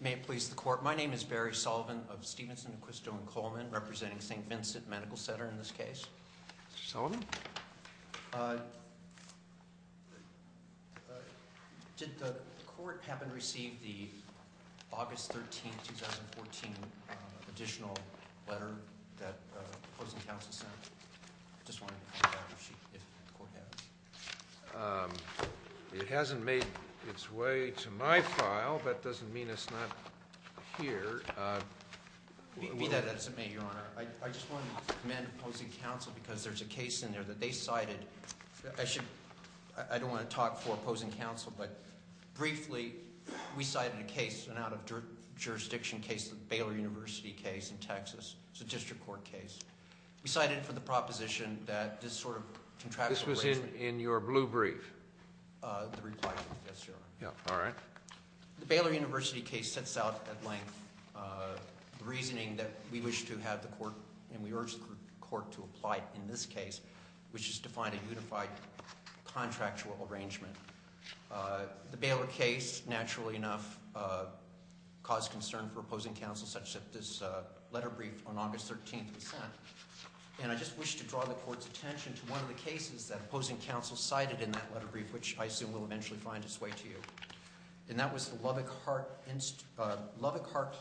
May it please the Court, my name is Barry Sullivan of Stevenson, Acquisto & Coleman, representing St. Vincent Medical Center in this case. Mr. Sullivan? Did the Court have and received the August 13, 2014 additional letter that opposing counsel sent? I just wanted to find out if the Court has. It hasn't made its way to my file. That doesn't mean it's not here. Be that as it may, Your Honor, I just want to commend opposing counsel because there's a case in there that they cited. I don't want to talk for opposing counsel, but briefly, we cited a case, an out-of-jurisdiction case, the Baylor University case in Texas. It's a district court case. We cited it for the proposition that this sort of contractual arrangement… This was in your blue brief? The reply brief, yes, Your Honor. All right. The Baylor University case sets out at length the reasoning that we wish to have the Court and we urge the Court to apply in this case, which is to find a unified contractual arrangement. The Baylor case, naturally enough, caused concern for opposing counsel, such that this letter briefed on August 13 was sent. And I just wish to draw the Court's attention to one of the cases that opposing counsel cited in that letter brief, which I assume will eventually find its way to you. And that was the Lubbock Heart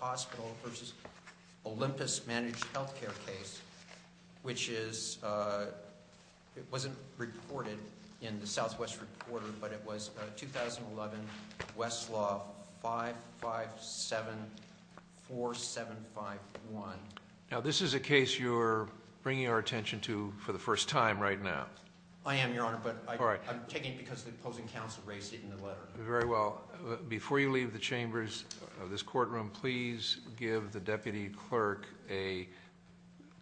Hospital v. Olympus Managed Healthcare case, which is… It wasn't reported in the Southwest Reporter, but it was a 2011 Westlaw 557-4751. Now, this is a case you're bringing our attention to for the first time right now. I am, Your Honor, but I'm taking it because the opposing counsel raised it in the letter. Very well. Before you leave the chambers of this courtroom, please give the deputy clerk a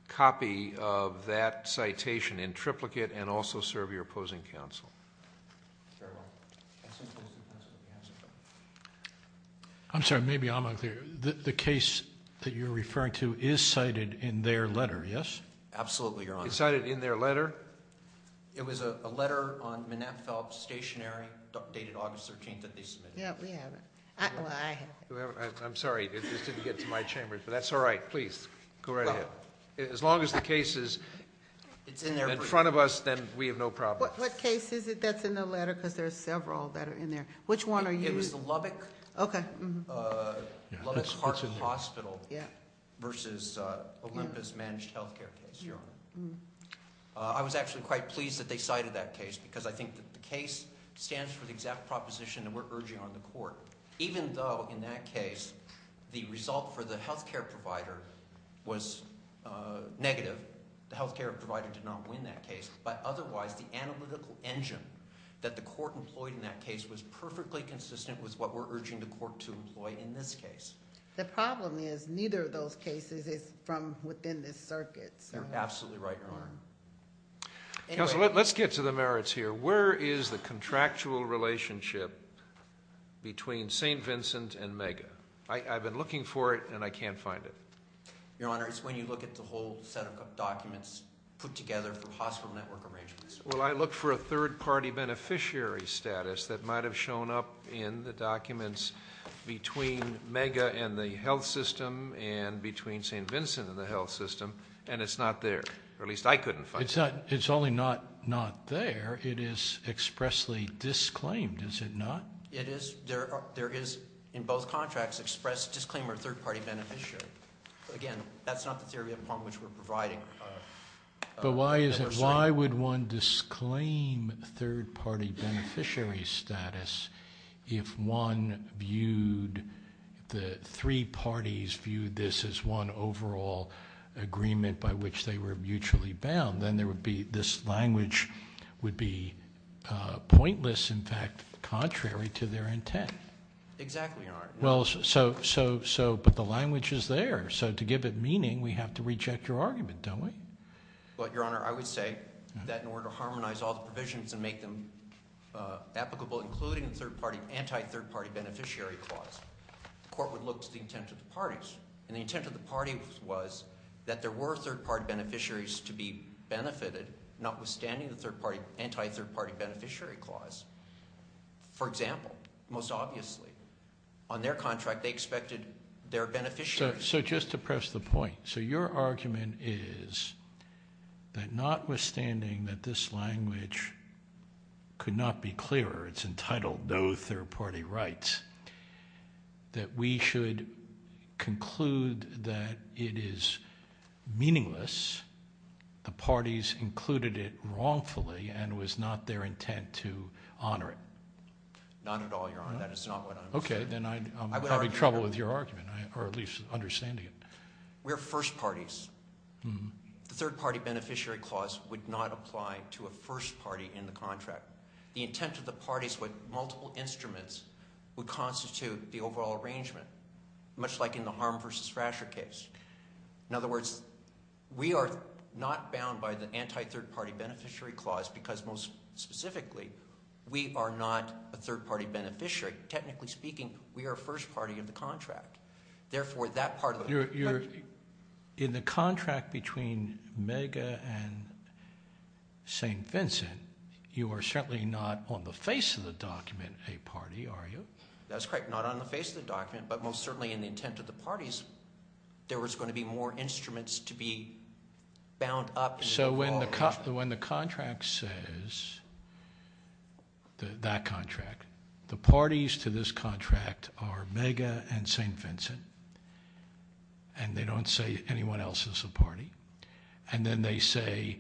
copy of that citation in triplicate and also serve your opposing counsel. Very well. I'm sorry, maybe I'm unclear. The case that you're referring to is cited in their letter, yes? Absolutely, Your Honor. It's cited in their letter? It was a letter on Menapfel Stationery, dated August 13, that they submitted. Yeah, we have it. Well, I have it. I'm sorry, it just didn't get to my chambers, but that's all right. Please, go right ahead. As long as the case is in front of us, then we have no problem. What case is it that's in the letter? Because there are several that are in there. Which one are you- It was the Lubbock Park Hospital versus Olympus Managed Health Care case, Your Honor. I was actually quite pleased that they cited that case because I think that the case stands for the exact proposition that we're urging on the court. Even though, in that case, the result for the health care provider was negative, the health care provider did not win that case. But otherwise, the analytical engine that the court employed in that case was perfectly consistent with what we're urging the court to employ in this case. The problem is, neither of those cases is from within this circuit. You're absolutely right, Your Honor. Counsel, let's get to the merits here. Where is the contractual relationship between St. Vincent and MEGA? I've been looking for it, and I can't find it. Your Honor, it's when you look at the whole set of documents put together for hospital network arrangements. Well, I look for a third-party beneficiary status that might have shown up in the documents between MEGA and the health system and between St. Vincent and the health system, and it's not there. Or at least I couldn't find it. It's only not there. It is expressly disclaimed, is it not? It is. There is, in both contracts, expressed disclaimer of third-party beneficiary. Again, that's not the theory upon which we're providing. But why would one disclaim third-party beneficiary status if the three parties viewed this as one overall agreement by which they were mutually bound? Then this language would be pointless, in fact, contrary to their intent. Exactly, Your Honor. But the language is there, so to give it meaning, we have to reject your argument, don't we? Your Honor, I would say that in order to harmonize all the provisions and make them applicable, including the anti-third-party beneficiary clause, the court would look to the intent of the parties. And the intent of the parties was that there were third-party beneficiaries to be benefited, notwithstanding the anti-third-party beneficiary clause. For example, most obviously, on their contract they expected their beneficiaries. So just to press the point, so your argument is that notwithstanding that this language could not be clearer, it's entitled no third-party rights, that we should conclude that it is meaningless, the parties included it wrongfully and it was not their intent to honor it. Not at all, Your Honor, that is not what I'm saying. Okay, then I'm having trouble with your argument, or at least understanding it. We're first parties. The third-party beneficiary clause would not apply to a first party in the contract. The intent of the parties with multiple instruments would constitute the overall arrangement, much like in the harm versus fracture case. In other words, we are not bound by the anti-third-party beneficiary clause because most specifically, we are not a third-party beneficiary. Technically speaking, we are a first party in the contract. Therefore, that part of the- In the contract between Mega and St. Vincent, you are certainly not on the face of the document a party, are you? That's correct, not on the face of the document, but most certainly in the intent of the parties, there was going to be more instruments to be bound up- So when the contract says, that contract, the parties to this contract are Mega and St. Vincent, and they don't say anyone else is a party, and then they say,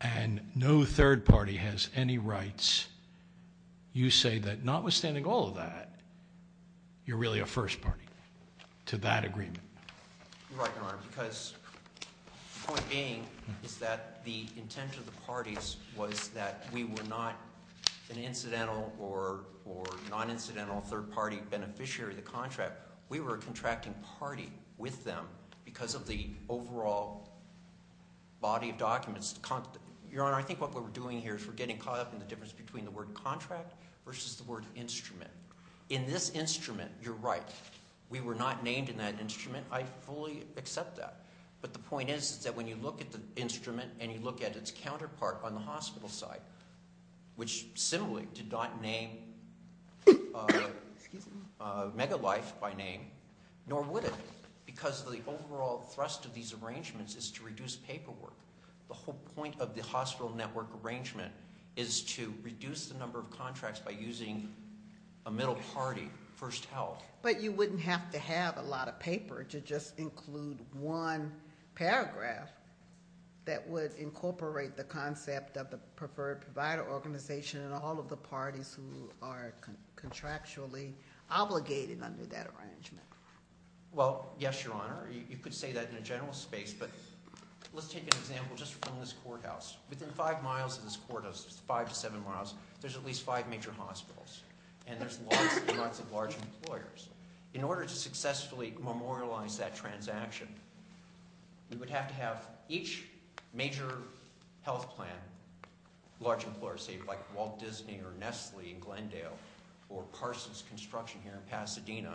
and no third party has any rights, you say that notwithstanding all of that, you're really a first party to that agreement. You're right, Your Honor, because the point being is that the intent of the parties was that we were not an incidental or non-incidental third-party beneficiary of the contract. We were a contracting party with them because of the overall body of documents. Your Honor, I think what we're doing here is we're getting caught up in the difference between the word contract versus the word instrument. In this instrument, you're right, we were not named in that instrument. I fully accept that, but the point is that when you look at the instrument and you look at its counterpart on the hospital side, which similarly did not name Mega Life by name, nor would it, because the overall thrust of these arrangements is to reduce paperwork. The whole point of the hospital network arrangement is to reduce the number of contracts by using a middle party, First Health. But you wouldn't have to have a lot of paper to just include one paragraph that would incorporate the concept of the preferred provider organization and all of the parties who are contractually obligated under that arrangement. Well, yes, Your Honor. You could say that in a general space, but let's take an example just from this courthouse. Within five miles of this courthouse, five to seven miles, there's at least five major hospitals, and there's lots and lots of large employers. In order to successfully memorialize that transaction, we would have to have each major health plan, large employers, say like Walt Disney or Nestle in Glendale or Parsons Construction here in Pasadena,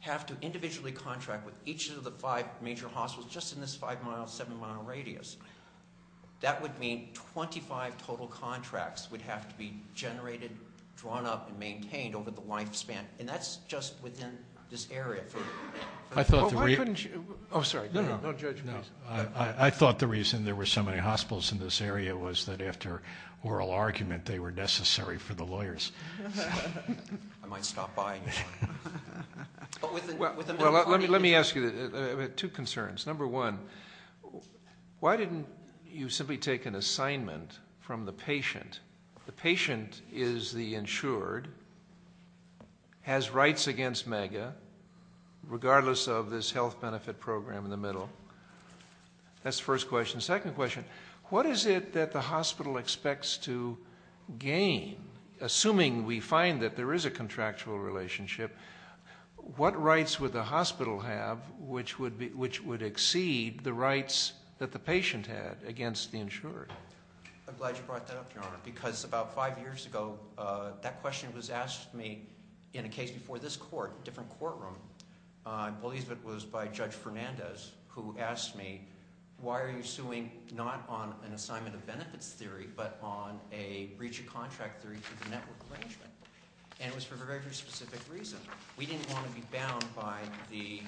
have to individually contract with each of the five major hospitals just in this five-mile, seven-mile radius. That would mean 25 total contracts would have to be generated, drawn up, and maintained over the lifespan, and that's just within this area. I thought the reason there were so many hospitals in this area was that after oral argument, they were necessary for the lawyers. I might stop by. Let me ask you two concerns. Number one, why didn't you simply take an assignment from the patient? The patient is the insured, has rights against MAGA, regardless of this health benefit program in the middle. That's the first question. Second question, what is it that the hospital expects to gain? Assuming we find that there is a contractual relationship, what rights would the hospital have which would exceed the rights that the patient had against the insured? I'm glad you brought that up, Your Honor, because about five years ago, that question was asked to me in a case before this court, a different courtroom. I believe it was by Judge Fernandez who asked me, why are you suing not on an assignment of benefits theory, but on a breach of contract theory through the network arrangement? And it was for a very specific reason. We didn't want to be bound by the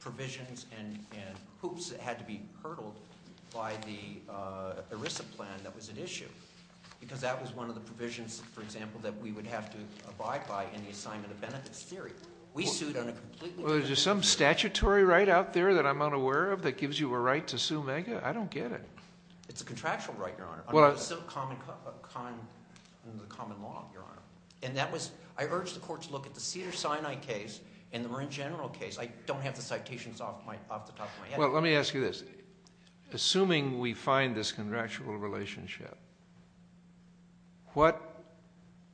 provisions and hoops that had to be hurdled by the ERISA plan that was at issue. Because that was one of the provisions, for example, that we would have to abide by in the assignment of benefits theory. We sued on a completely different basis. Well, is there some statutory right out there that I'm unaware of that gives you a right to sue MAGA? I don't get it. It's a contractual right, Your Honor, under the common law, Your Honor. I urge the court to look at the Cedars-Sinai case and the Marin General case. I don't have the citations off the top of my head. Well, let me ask you this. Assuming we find this contractual relationship, what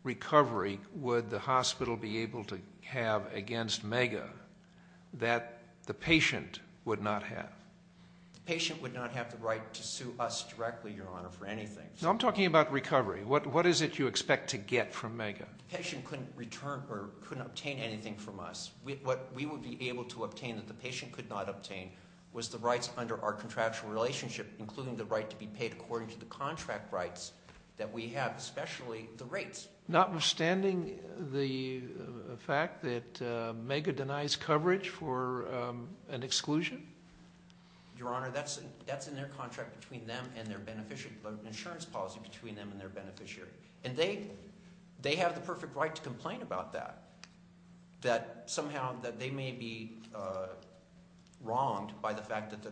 recovery would the hospital be able to have against MAGA that the patient would not have? The patient would not have the right to sue us directly, Your Honor, for anything. No, I'm talking about recovery. What is it you expect to get from MAGA? The patient couldn't return or couldn't obtain anything from us. What we would be able to obtain that the patient could not obtain was the rights under our contractual relationship, including the right to be paid according to the contract rights that we have, especially the rates. Notwithstanding the fact that MAGA denies coverage for an exclusion? Your Honor, that's in their contract between them and their beneficiary, an insurance policy between them and their beneficiary. And they have the perfect right to complain about that, that somehow they may be wronged by the fact that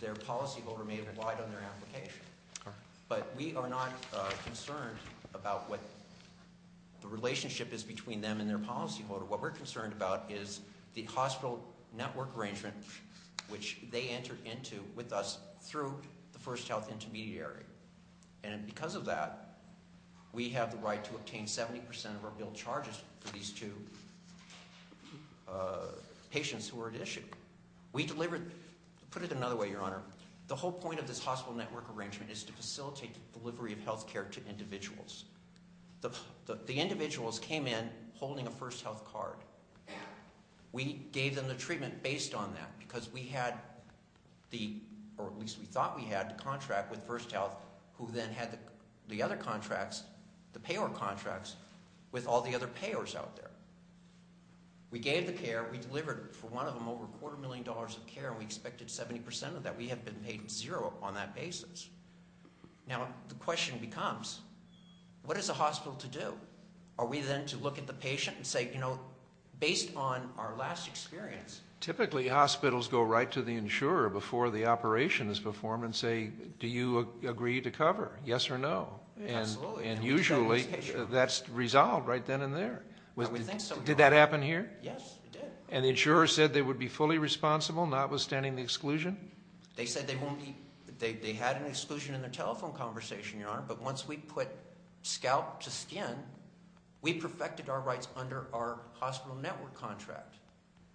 their policyholder may have relied on their application. But we are not concerned about what the relationship is between them and their policyholder. What we're concerned about is the hospital network arrangement which they entered into with us through the First Health Intermediary. And because of that, we have the right to obtain 70% of our billed charges for these two patients who are at issue. We delivered, to put it another way, Your Honor, the whole point of this hospital network arrangement is to facilitate the delivery of health care to individuals. The individuals came in holding a First Health card. We gave them the treatment based on that because we had the, or at least we thought we had, the contract with First Health, who then had the other contracts, the payor contracts, with all the other payors out there. We gave the care, we delivered for one of them over a quarter million dollars of care, and we expected 70% of that. We have been paid zero on that basis. Now, the question becomes, what is a hospital to do? Are we then to look at the patient and say, you know, based on our last experience- Typically, hospitals go right to the insurer before the operation is performed and say, do you agree to cover, yes or no? Absolutely. And usually, that's resolved right then and there. We think so, Your Honor. Did that happen here? Yes, it did. And the insurer said they would be fully responsible, notwithstanding the exclusion? They said they had an exclusion in their telephone conversation, Your Honor, but once we put scalp to skin, we perfected our rights under our hospital network contract.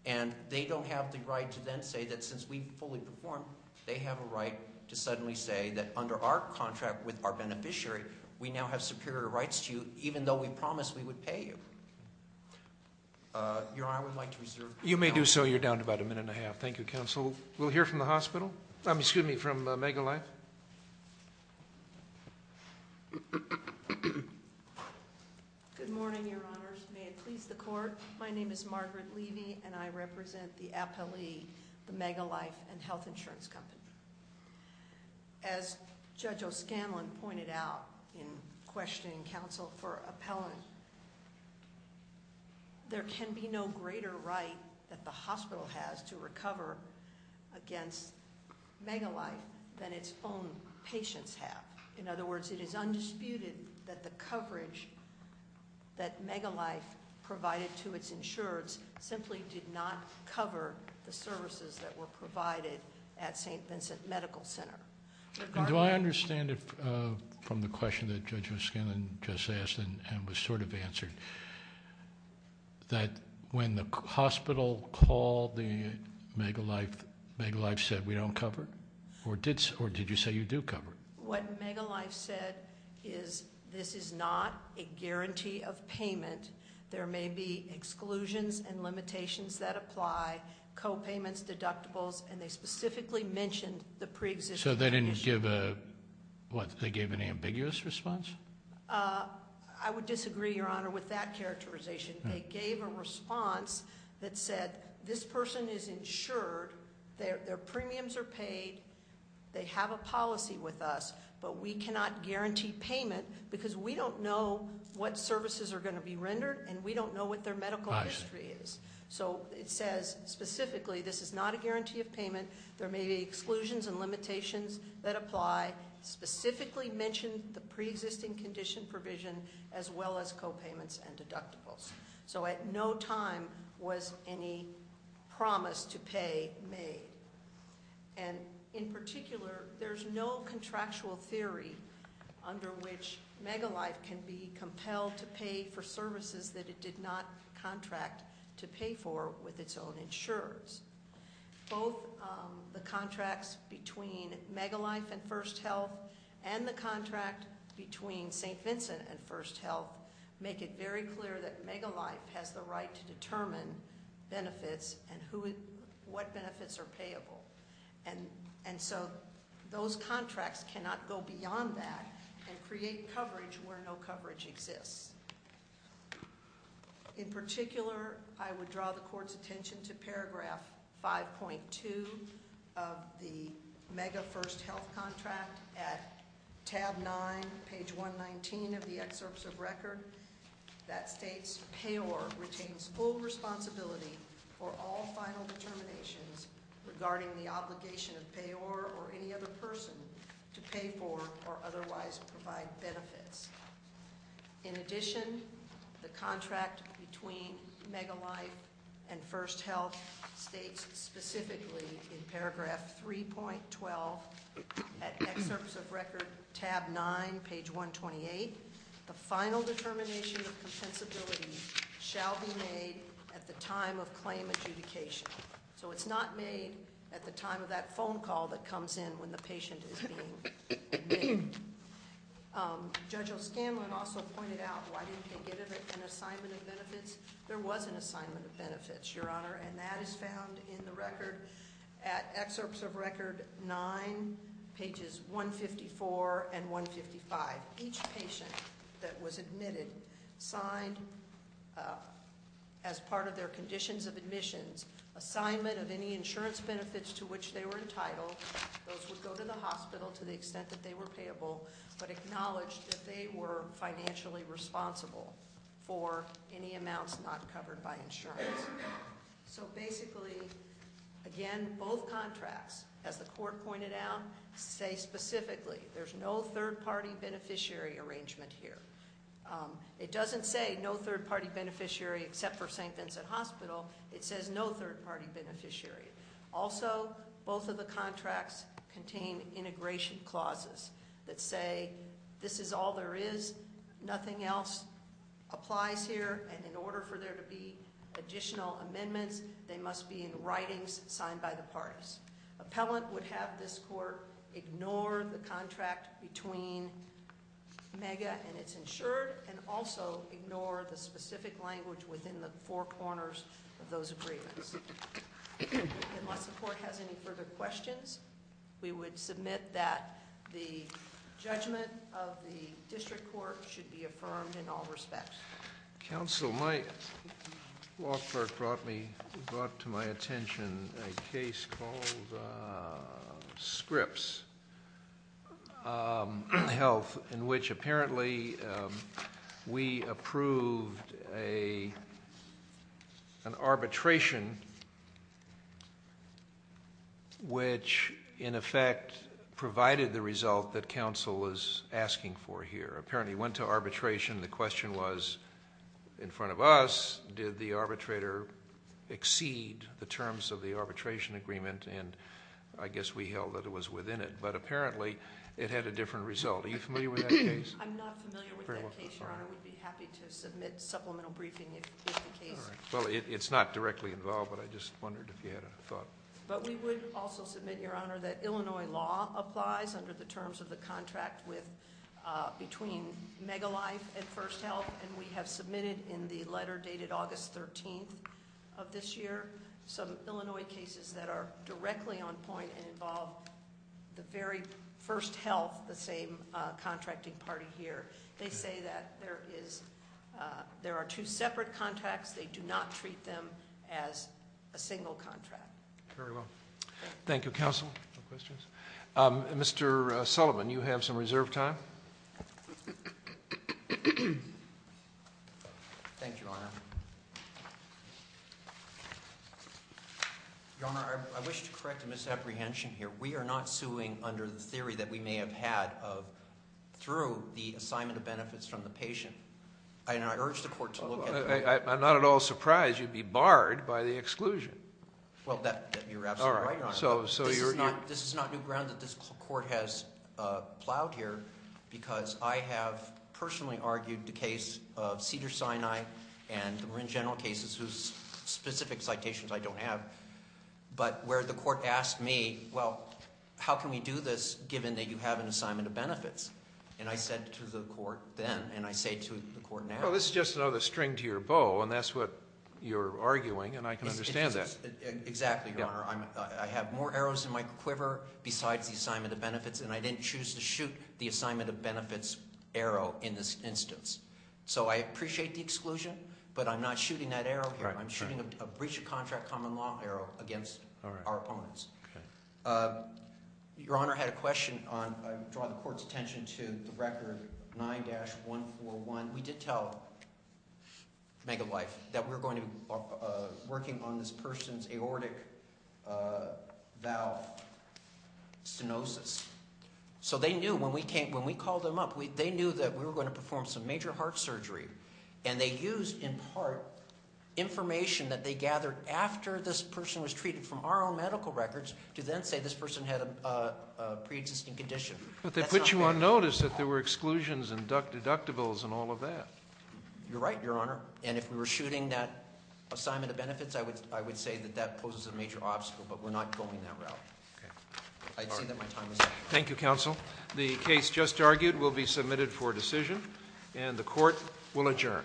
And they don't have the right to then say that since we fully performed, they have a right to suddenly say that under our contract with our beneficiary, we now have superior rights to you even though we promised we would pay you. Your Honor, I would like to reserve- You may do so. You're down to about a minute and a half. Thank you, Counsel. We'll hear from the hospital. Excuse me, from Megalife. Good morning, Your Honors. May it please the Court, my name is Margaret Levy, and I represent the appellee, the Megalife Health Insurance Company. As Judge O'Scanlan pointed out in questioning counsel for appellant, there can be no greater right that the hospital has to recover against Megalife than its own patients have. In other words, it is undisputed that the coverage that Megalife provided to its insureds simply did not cover the services that were provided at St. Vincent Medical Center. Do I understand it from the question that Judge O'Scanlan just asked and was sort of answered, that when the hospital called the Megalife, Megalife said we don't cover? Or did you say you do cover? What Megalife said is this is not a guarantee of payment. There may be exclusions and limitations that apply, co-payments, deductibles, and they specifically mentioned the pre-existing condition. So they didn't give a, what, they gave an ambiguous response? I would disagree, Your Honor, with that characterization. They gave a response that said this person is insured, their premiums are paid, they have a policy with us, but we cannot guarantee payment because we don't know what services are going to be rendered and we don't know what their medical history is. So it says specifically this is not a guarantee of payment. There may be exclusions and limitations that apply. Specifically mentioned the pre-existing condition provision as well as co-payments and deductibles. So at no time was any promise to pay made. And in particular, there's no contractual theory under which Megalife can be compelled to pay for services that it did not contract to pay for with its own insurers. Both the contracts between Megalife and First Health and the contract between St. Vincent and First Health make it very clear that Megalife has the right to determine benefits and what benefits are payable. And so those contracts cannot go beyond that and create coverage where no coverage exists. In particular, I would draw the court's attention to paragraph 5.2 of the Mega First Health contract at tab 9, page 119 of the excerpts of record that states Payor retains full responsibility for all final determinations regarding the obligation of Payor or any other person to pay for or otherwise provide benefits. In addition, the contract between Megalife and First Health states specifically in paragraph 3.12 at excerpts of record tab 9, page 128, the final determination of compensability shall be made at the time of claim adjudication. So it's not made at the time of that phone call that comes in when the patient is being admitted. Judge O'Scanlan also pointed out, why didn't they get an assignment of benefits? There was an assignment of benefits, Your Honor, and that is found in the record at excerpts of record 9, pages 154 and 155. Each patient that was admitted signed as part of their conditions of admissions assignment of any insurance benefits to which they were entitled. Those would go to the hospital to the extent that they were payable, but acknowledged that they were financially responsible for any amounts not covered by insurance. So basically, again, both contracts, as the court pointed out, say specifically there's no third-party beneficiary arrangement here. It doesn't say no third-party beneficiary except for St. Vincent Hospital. It says no third-party beneficiary. Also, both of the contracts contain integration clauses that say this is all there is, nothing else applies here, and in order for there to be additional amendments, they must be in writings signed by the parties. Appellant would have this court ignore the contract between MEGA and its insured and also ignore the specific language within the four corners of those agreements. Unless the court has any further questions, we would submit that the judgment of the district court should be affirmed in all respects. Counsel, my law clerk brought to my attention a case called Scripps Health in which apparently we approved an arbitration which, in effect, provided the result that counsel was asking for here. Apparently it went to arbitration. The question was in front of us did the arbitrator exceed the terms of the arbitration agreement, and I guess we held that it was within it, but apparently it had a different result. Are you familiar with that case? I'm not familiar with that case, Your Honor. We'd be happy to submit supplemental briefing if the case. Well, it's not directly involved, but I just wondered if you had a thought. But we would also submit, Your Honor, that Illinois law applies under the terms of the contract between MEGA Life and First Health, and we have submitted in the letter dated August 13th of this year some Illinois cases that are directly on point and involve the very First Health, the same contracting party here. They say that there are two separate contracts. They do not treat them as a single contract. Very well. Thank you, Counsel. No questions? Thank you, Your Honor. Your Honor, I wish to correct a misapprehension here. We are not suing under the theory that we may have had through the assignment of benefits from the patient. I urge the Court to look at that. I'm not at all surprised you'd be barred by the exclusion. Well, you're absolutely right, Your Honor. This is not new ground that this Court has plowed here because I have personally argued the case of Cedars-Sinai and the Marin General cases, whose specific citations I don't have, but where the Court asked me, well, how can we do this given that you have an assignment of benefits? And I said to the Court then, and I say to the Court now. Well, this is just another string to your bow, and that's what you're arguing, and I can understand that. Exactly, Your Honor. And I didn't choose to shoot the assignment of benefits arrow in this instance. So I appreciate the exclusion, but I'm not shooting that arrow here. I'm shooting a breach of contract common law arrow against our opponents. Your Honor, I had a question. I draw the Court's attention to the record 9-141. We did tell Megalife that we were going to be working on this person's aortic valve stenosis. So they knew when we called them up, they knew that we were going to perform some major heart surgery. And they used, in part, information that they gathered after this person was treated from our own medical records to then say this person had a pre-existing condition. But they put you on notice that there were exclusions and deductibles and all of that. You're right, Your Honor. And if we were shooting that assignment of benefits, I would say that that poses a major obstacle, but we're not going that route. I'd say that my time is up. Thank you, Counsel. The case just argued will be submitted for decision, and the Court will adjourn.